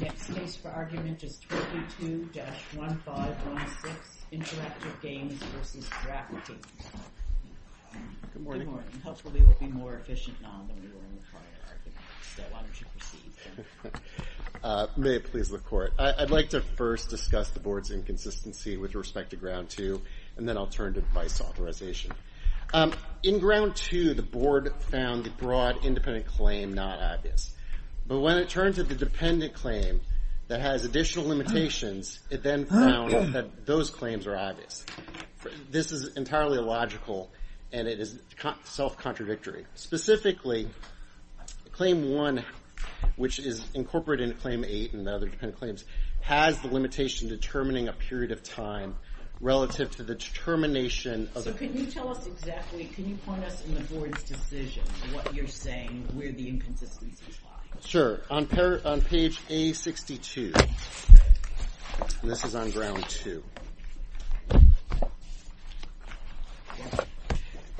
Next case for argument is 32-1516, Interactive Games v. DraftKings. Good morning. Good morning. Hopefully we'll be more efficient now than we were in the prior argument. So why don't you proceed. May it please the court. I'd like to first discuss the board's inconsistency with respect to ground two, and then I'll turn to device authorization. In ground two, the board found the broad independent claim not obvious. But when it turned to the dependent claim that has additional limitations, it then found that those claims are obvious. This is entirely illogical, and it is self-contradictory. Specifically, claim one, which is incorporated into claim eight and other dependent claims, has the limitation determining a period of time relative to the determination of the claim. So can you tell us exactly, can you point us in the board's decision, what you're saying, where the inconsistencies lie? Sure. On page A62, and this is on ground two,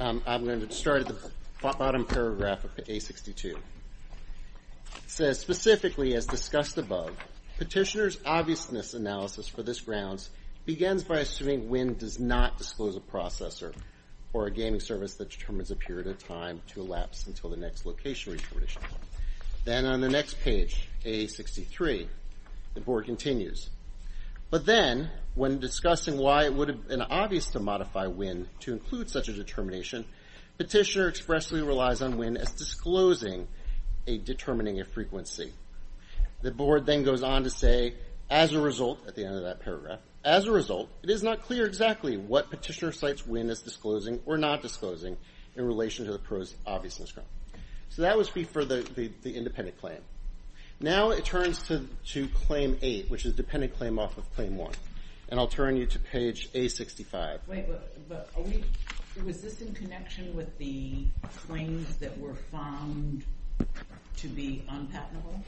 I'm going to start at the bottom paragraph of A62. It says, specifically, as discussed above, petitioner's obviousness analysis for this grounds begins by assuming Winn does not disclose a processor or a gaming service that determines a period of time to elapse until the next location is reported. Then on the next page, A63, the board continues. But then, when discussing why it would have been obvious to modify Winn to include such a determination, petitioner expressly relies on Winn as disclosing a determining a frequency. The board then goes on to say, as a result, at the end of that paragraph, as a result, it is not clear exactly what petitioner cites Winn as disclosing or not disclosing in relation to the pro's obviousness. So that was for the independent claim. Now it turns to claim eight, which is dependent claim off of claim one, and I'll turn you to page A65. Wait, but was this in connection with the claims that were found to be unpatentable?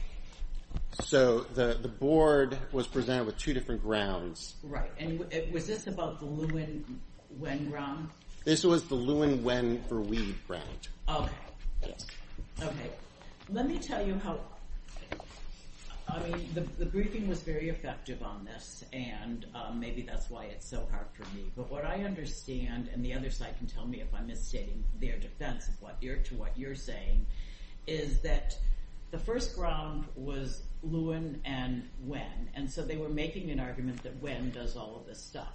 So the board was presented with two different grounds. Right, and was this about the Lewin-Winn ground? This was the Lewin-Winn for Weed ground. Okay, okay. Let me tell you how, I mean, the briefing was very effective on this, and maybe that's why it's so hard for me. But what I understand, and the other side can tell me if I'm misstating their defense to what you're saying, is that the first ground was Lewin and Winn. And so they were making an argument that Winn does all of this stuff.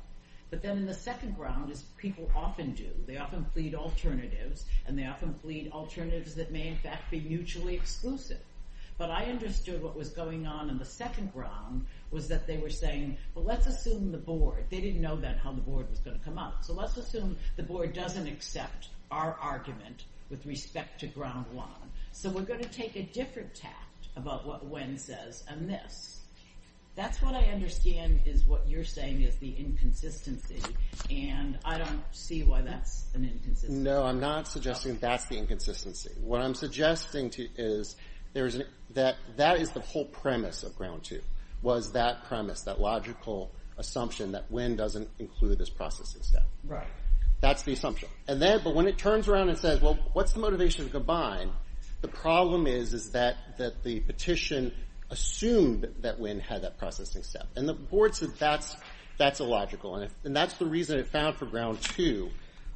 But then in the second ground, as people often do, they often plead alternatives, and they often plead alternatives that may in fact be mutually exclusive. But I understood what was going on in the second ground was that they were saying, well, let's assume the board, they didn't know then how the board was going to come out. So let's assume the board doesn't accept our argument with respect to ground one. So we're going to take a different tact about what Winn says on this. That's what I understand is what you're saying is the inconsistency, and I don't see why that's an inconsistency. No, I'm not suggesting that's the inconsistency. What I'm suggesting is that that is the whole premise of ground two, was that premise, that logical assumption that Winn doesn't include this process. Right. That's the assumption. But when it turns around and says, well, what's the motivation to combine, the problem is that the petition assumed that Winn had that processing step. And the board said that's illogical. And that's the reason it found for ground two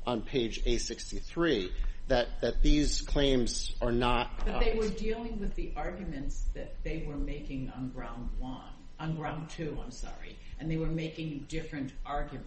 on page A63, that these claims are not. But they were dealing with the arguments that they were making on ground one, on ground two, I'm sorry. And they were making different arguments.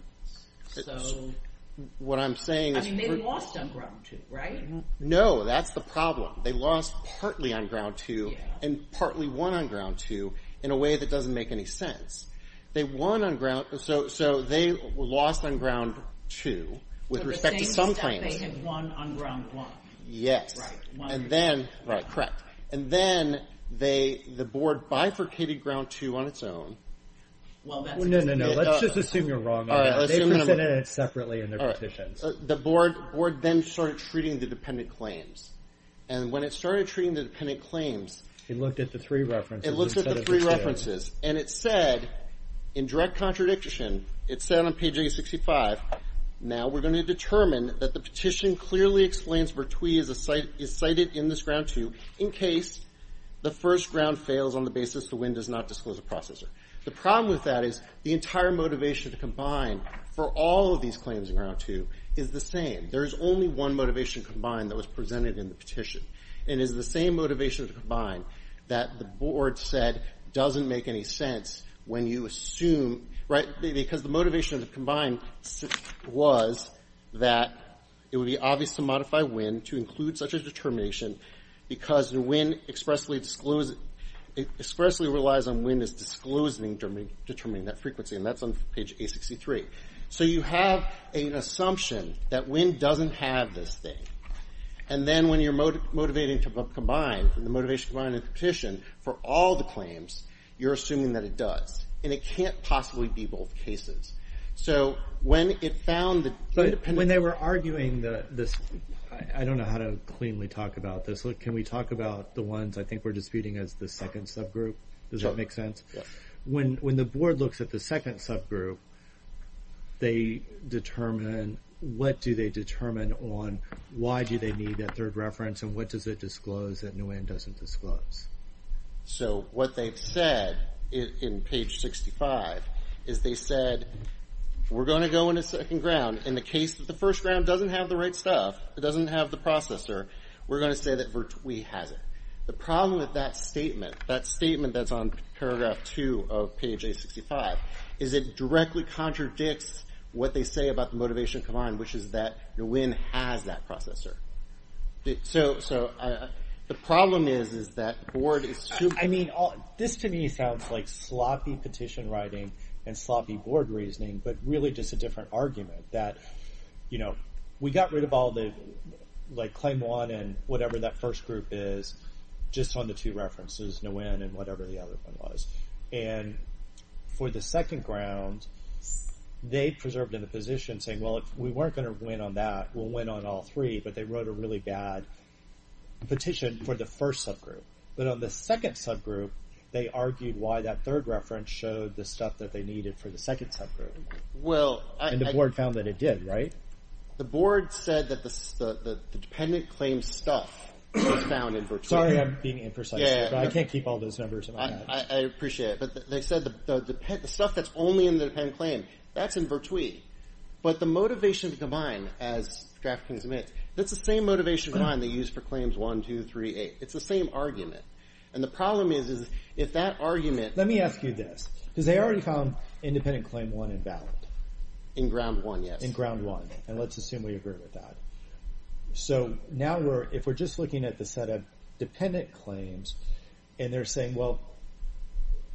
What I'm saying is. I mean, they lost on ground two, right? No, that's the problem. They lost partly on ground two and partly won on ground two in a way that doesn't make any sense. They won on ground. So they lost on ground two with respect to some claims. But the same step they had won on ground one. Yes. Right. And then. Right, correct. And then the board bifurcated ground two on its own. Well, that's. No, no, no, no. Let's just assume you're wrong on that. They presented it separately in their petitions. All right. The board then started treating the dependent claims. And when it started treating the dependent claims. It looked at the three references instead of the two. It looked at the three references. And it said, in direct contradiction, it said on page A65. Now we're going to determine that the petition clearly explains Vertui is cited in this ground two. In case the first ground fails on the basis the win does not disclose a processor. The problem with that is the entire motivation to combine for all of these claims in ground two is the same. There is only one motivation combined that was presented in the petition. And it is the same motivation to combine that the board said doesn't make any sense when you assume. Right. Because the motivation to combine was that it would be obvious to modify win to include such a determination. Because the win expressly relies on win as disclosing determining that frequency. And that's on page A63. So you have an assumption that win doesn't have this thing. And then when you're motivating to combine, the motivation to combine in the petition for all the claims, you're assuming that it does. And it can't possibly be both cases. So when it found the dependent. When they were arguing this, I don't know how to cleanly talk about this. Can we talk about the ones I think we're disputing as the second subgroup? Does that make sense? Yes. When the board looks at the second subgroup, they determine what do they determine on why do they need that third reference and what does it disclose that win doesn't disclose? So what they've said in page 65 is they said we're going to go into second ground. In the case that the first round doesn't have the right stuff, it doesn't have the processor, we're going to say that we have it. The problem with that statement, that statement that's on paragraph two of page A65, is it directly contradicts what they say about the motivation to combine, which is that the win has that processor. So the problem is, is that board is – I mean, this to me sounds like sloppy petition writing and sloppy board reasoning, but really just a different argument. That, you know, we got rid of all the, like claim one and whatever that first group is, just on the two references. No win and whatever the other one was. And for the second ground, they preserved in the position saying, well, if we weren't going to win on that, we'll win on all three. But they wrote a really bad petition for the first subgroup. But on the second subgroup, they argued why that third reference showed the stuff that they needed for the second subgroup. And the board found that it did, right? The board said that the dependent claim stuff was found in particular. Sorry, I'm being imprecise here, but I can't keep all those numbers in my head. I appreciate it. But they said the stuff that's only in the dependent claim, that's in virtue. But the motivation to combine, as the draft can submit, that's the same motivation to combine they used for claims one, two, three, eight. It's the same argument. And the problem is, is if that argument – Let me ask you this. Because they already found independent claim one invalid. In ground one, yes. In ground one. And let's assume we agree with that. So now if we're just looking at the set of dependent claims, and they're saying, well,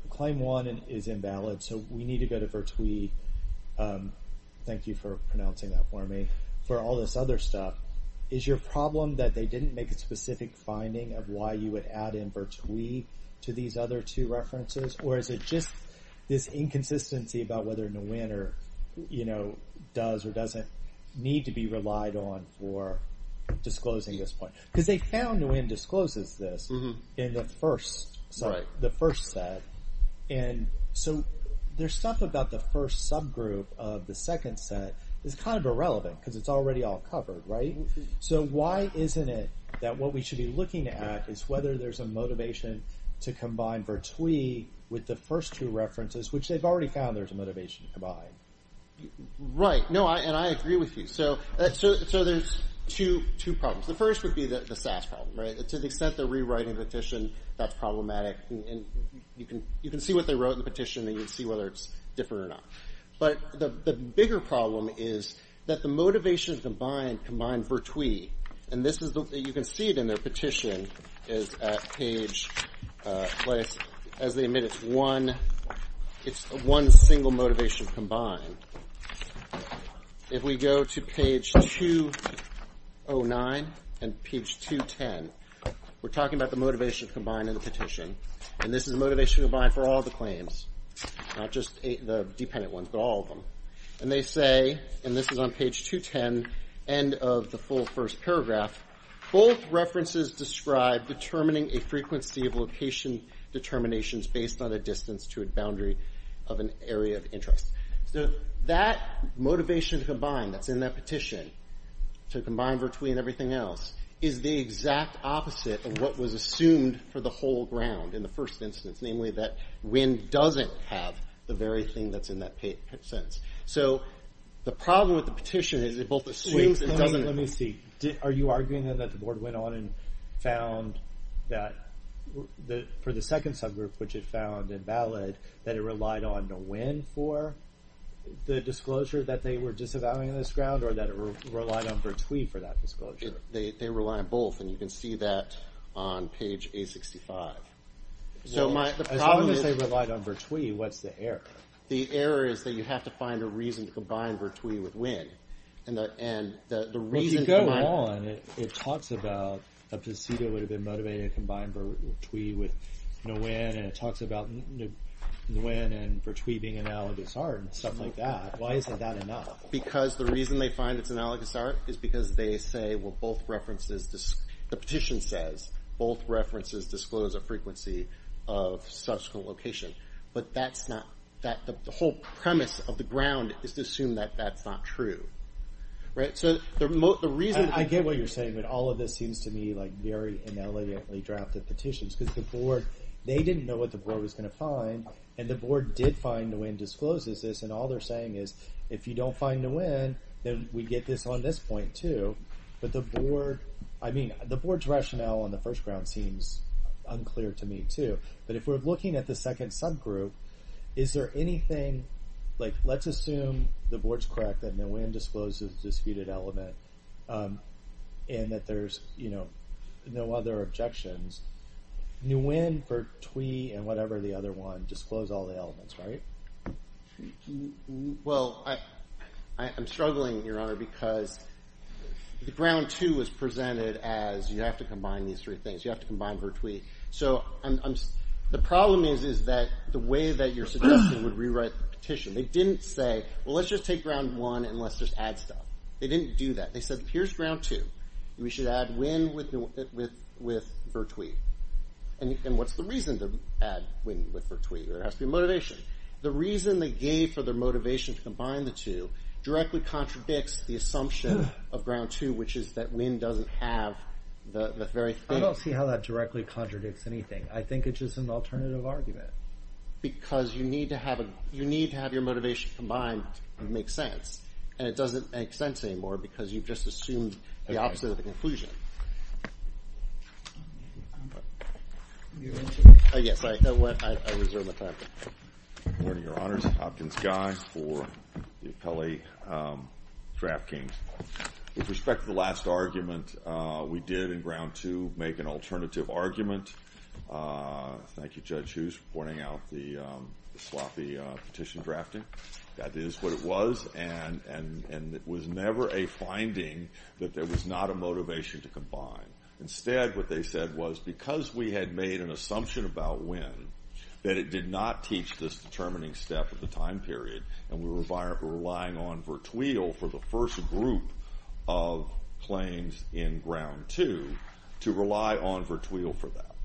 claim one is invalid, so we need to go to virtui. Thank you for pronouncing that for me. For all this other stuff, is your problem that they didn't make a specific finding of why you would add in virtui to these other two references? Or is it just this inconsistency about whether Nguyen does or doesn't need to be relied on for disclosing this point? Because they found Nguyen discloses this in the first set. And so their stuff about the first subgroup of the second set is kind of irrelevant because it's already all covered, right? So why isn't it that what we should be looking at is whether there's a motivation to combine virtui with the first two references, which they've already found there's a motivation to combine? Right. No, and I agree with you. So there's two problems. The first would be the SAS problem, right? To the extent they're rewriting the petition, that's problematic. And you can see what they wrote in the petition, and you can see whether it's different or not. But the bigger problem is that the motivation to combine combined virtui, and you can see it in their petition, is at page, as they admit, it's one single motivation combined. If we go to page 209 and page 210, we're talking about the motivation to combine in the petition. And this is the motivation to combine for all the claims, not just the dependent ones, but all of them. And they say, and this is on page 210, end of the full first paragraph, both references describe determining a frequency of location determinations based on a distance to a boundary of an area of interest. So that motivation to combine that's in that petition, to combine virtui and everything else, is the exact opposite of what was assumed for the whole ground in the first instance, namely that Winn doesn't have the very thing that's in that sentence. So the problem with the petition is it both assumes and doesn't. Let me see, are you arguing that the board went on and found that for the second subgroup, which it found invalid, that it relied on the Winn for the disclosure that they were disavowing this ground, or that it relied on virtui for that disclosure? They rely on both, and you can see that on page 865. So the problem is they relied on virtui, what's the error? The error is that you have to find a reason to combine virtui with Winn. And the reason to combine them. Well, if you go on, it talks about a posito would have been motivated to combine virtui with Nguyen, and it talks about Nguyen and virtui being analogous art and stuff like that. Why isn't that enough? Because the reason they find it's analogous art is because they say, well, the petition says, both references disclose a frequency of subsequent location. But the whole premise of the ground is to assume that that's not true. I get what you're saying, but all of this seems to me like very inelegantly drafted petitions, because they didn't know what the board was going to find. And the board did find Nguyen discloses this, and all they're saying is, if you don't find Nguyen, then we get this on this point, too. But the board, I mean, the board's rationale on the first ground seems unclear to me, too. But if we're looking at the second subgroup, is there anything, like, let's assume the board's correct that Nguyen discloses a disputed element, and that there's, you know, no other objections. Nguyen, virtui, and whatever the other one disclose all the elements, right? Well, I'm struggling, Your Honor, because the ground two was presented as you have to combine these three things. You have to combine virtui. So the problem is that the way that you're suggesting would rewrite the petition. They didn't say, well, let's just take ground one and let's just add stuff. They didn't do that. They said, here's ground two. We should add Nguyen with virtui. And what's the reason to add Nguyen with virtui? There has to be motivation. The reason they gave for their motivation to combine the two directly contradicts the assumption of ground two, which is that Nguyen doesn't have the very thing. I don't see how that directly contradicts anything. I think it's just an alternative argument. Because you need to have your motivation combined to make sense. And it doesn't make sense anymore because you've just assumed the opposite of the conclusion. Yes, I reserve my time. Good morning, Your Honors. Hopkins Guy for the Appellee Draft Kings. With respect to the last argument, we did in ground two make an alternative argument. Thank you, Judge Hughes, for pointing out the sloppy petition drafting. That is what it was, and it was never a finding that there was not a motivation to combine. Instead, what they said was, because we had made an assumption about Nguyen, that it did not teach this determining step at the time period, and we were relying on virtui for the first group of claims in ground two to rely on virtui for that.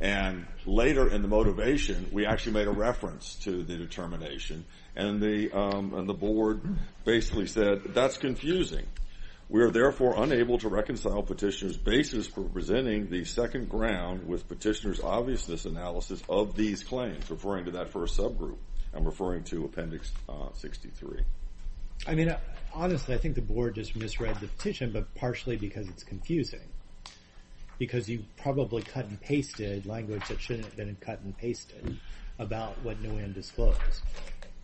And later in the motivation, we actually made a reference to the determination. And the board basically said, that's confusing. We are therefore unable to reconcile petitioner's basis for presenting the second ground with petitioner's obviousness analysis of these claims, referring to that first subgroup and referring to Appendix 63. I mean, honestly, I think the board just misread the petition, but partially because it's confusing. Because you probably cut and pasted language that shouldn't have been cut and pasted about what Nguyen disclosed.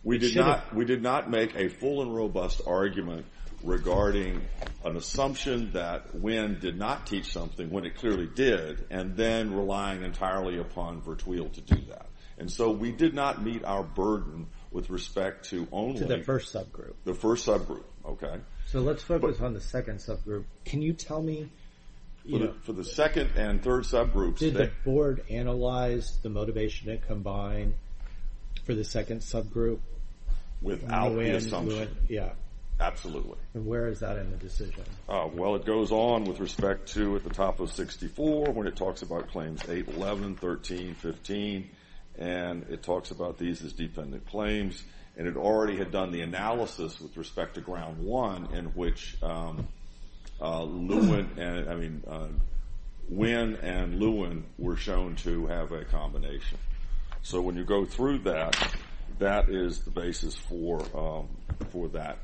We did not make a full and robust argument regarding an assumption that Nguyen did not teach something when it clearly did, and then relying entirely upon virtui to do that. And so we did not meet our burden with respect to only the first subgroup. So let's focus on the second subgroup. Can you tell me? For the second and third subgroups. Did the board analyze the motivation to combine for the second subgroup? Without the assumption. Yeah. Absolutely. And where is that in the decision? Well, it goes on with respect to at the top of 64 when it talks about Claims 811, 13, 15, and it talks about these as defendant claims. And it already had done the analysis with respect to Ground 1 in which Nguyen and Lewin were shown to have a combination. So when you go through that, that is the basis for that.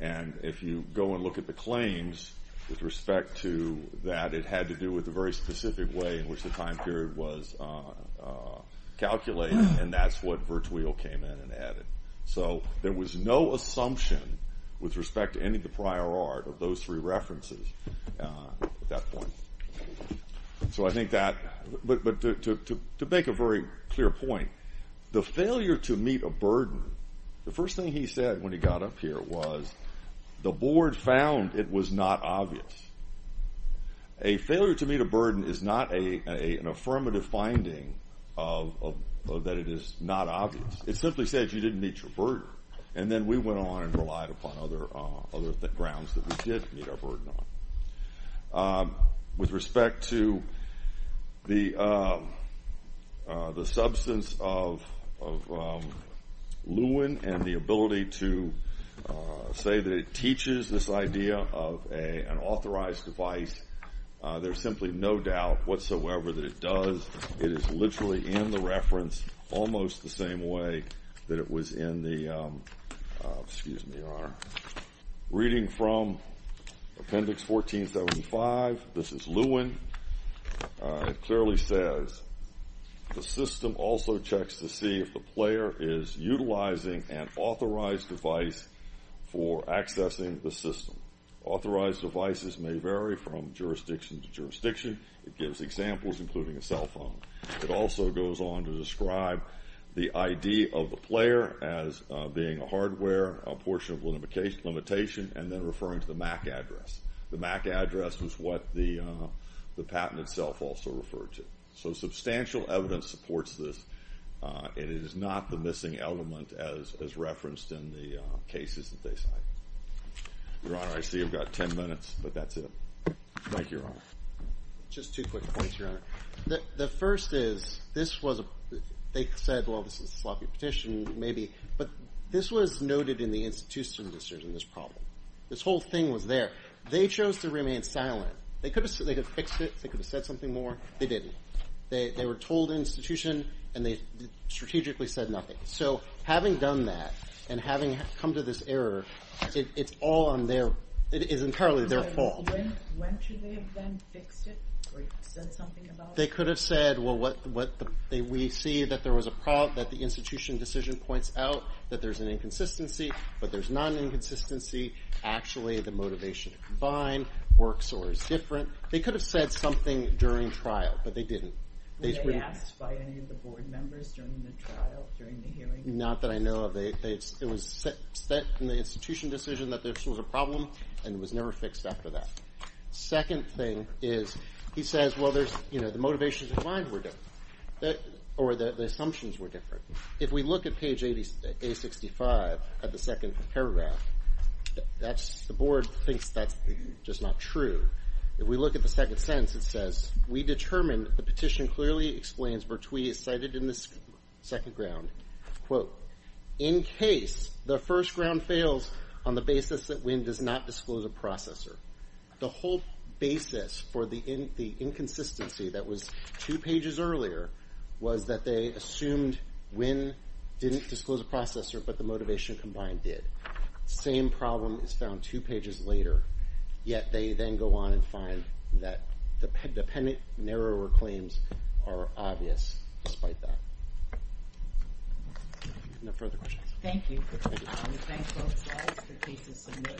And if you go and look at the claims with respect to that, it had to do with a very specific way in which the time period was calculated, and that's what virtui came in and added. So there was no assumption with respect to any of the prior art of those three references at that point. So I think that to make a very clear point, the failure to meet a burden, the first thing he said when he got up here was the board found it was not obvious. A failure to meet a burden is not an affirmative finding that it is not obvious. It simply says you didn't meet your burden. And then we went on and relied upon other grounds that we did meet our burden on. With respect to the substance of Lewin and the ability to say that it teaches this idea of an authorized device, there's simply no doubt whatsoever that it does. It is literally in the reference almost the same way that it was in the reading from Appendix 1475. This is Lewin. It clearly says the system also checks to see if the player is utilizing an authorized device for accessing the system. Authorized devices may vary from jurisdiction to jurisdiction. It gives examples, including a cell phone. It also goes on to describe the ID of the player as being a hardware, a portion of a limitation, and then referring to the MAC address. The MAC address was what the patent itself also referred to. So substantial evidence supports this, and it is not the missing element as referenced in the cases that they cite. Your Honor, I see we've got 10 minutes, but that's it. Mike, Your Honor. Just two quick points, Your Honor. The first is they said, well, this is a sloppy petition, maybe, but this was noted in the institutional decision, this problem. This whole thing was there. They chose to remain silent. They could have fixed it. They could have said something more. They didn't. They were told institution, and they strategically said nothing. So having done that and having come to this error, it's entirely their fault. When should they have then fixed it or said something about it? They could have said, well, we see that there was a problem, that the institution decision points out that there's an inconsistency, but there's not an inconsistency. Actually, the motivation to combine works or is different. They could have said something during trial, but they didn't. Were they asked by any of the board members during the trial, during the hearing? Not that I know of. It was set in the institution decision that this was a problem, and it was never fixed after that. The second thing is he says, well, the motivations in mind were different or the assumptions were different. If we look at page A65 at the second paragraph, the board thinks that's just not true. If we look at the second sentence, it says, we determine, the petition clearly explains, Bertwi is cited in this second ground, quote, in case the first ground fails on the basis that Winn does not disclose a processor. The whole basis for the inconsistency that was two pages earlier was that they assumed Winn didn't disclose a processor, but the motivation combined did. Same problem is found two pages later, yet they then go on and find that the pennant narrower claims are obvious despite that. No further questions. Thank you. Thank you. Thanks, folks. I'll ask for cases submitted.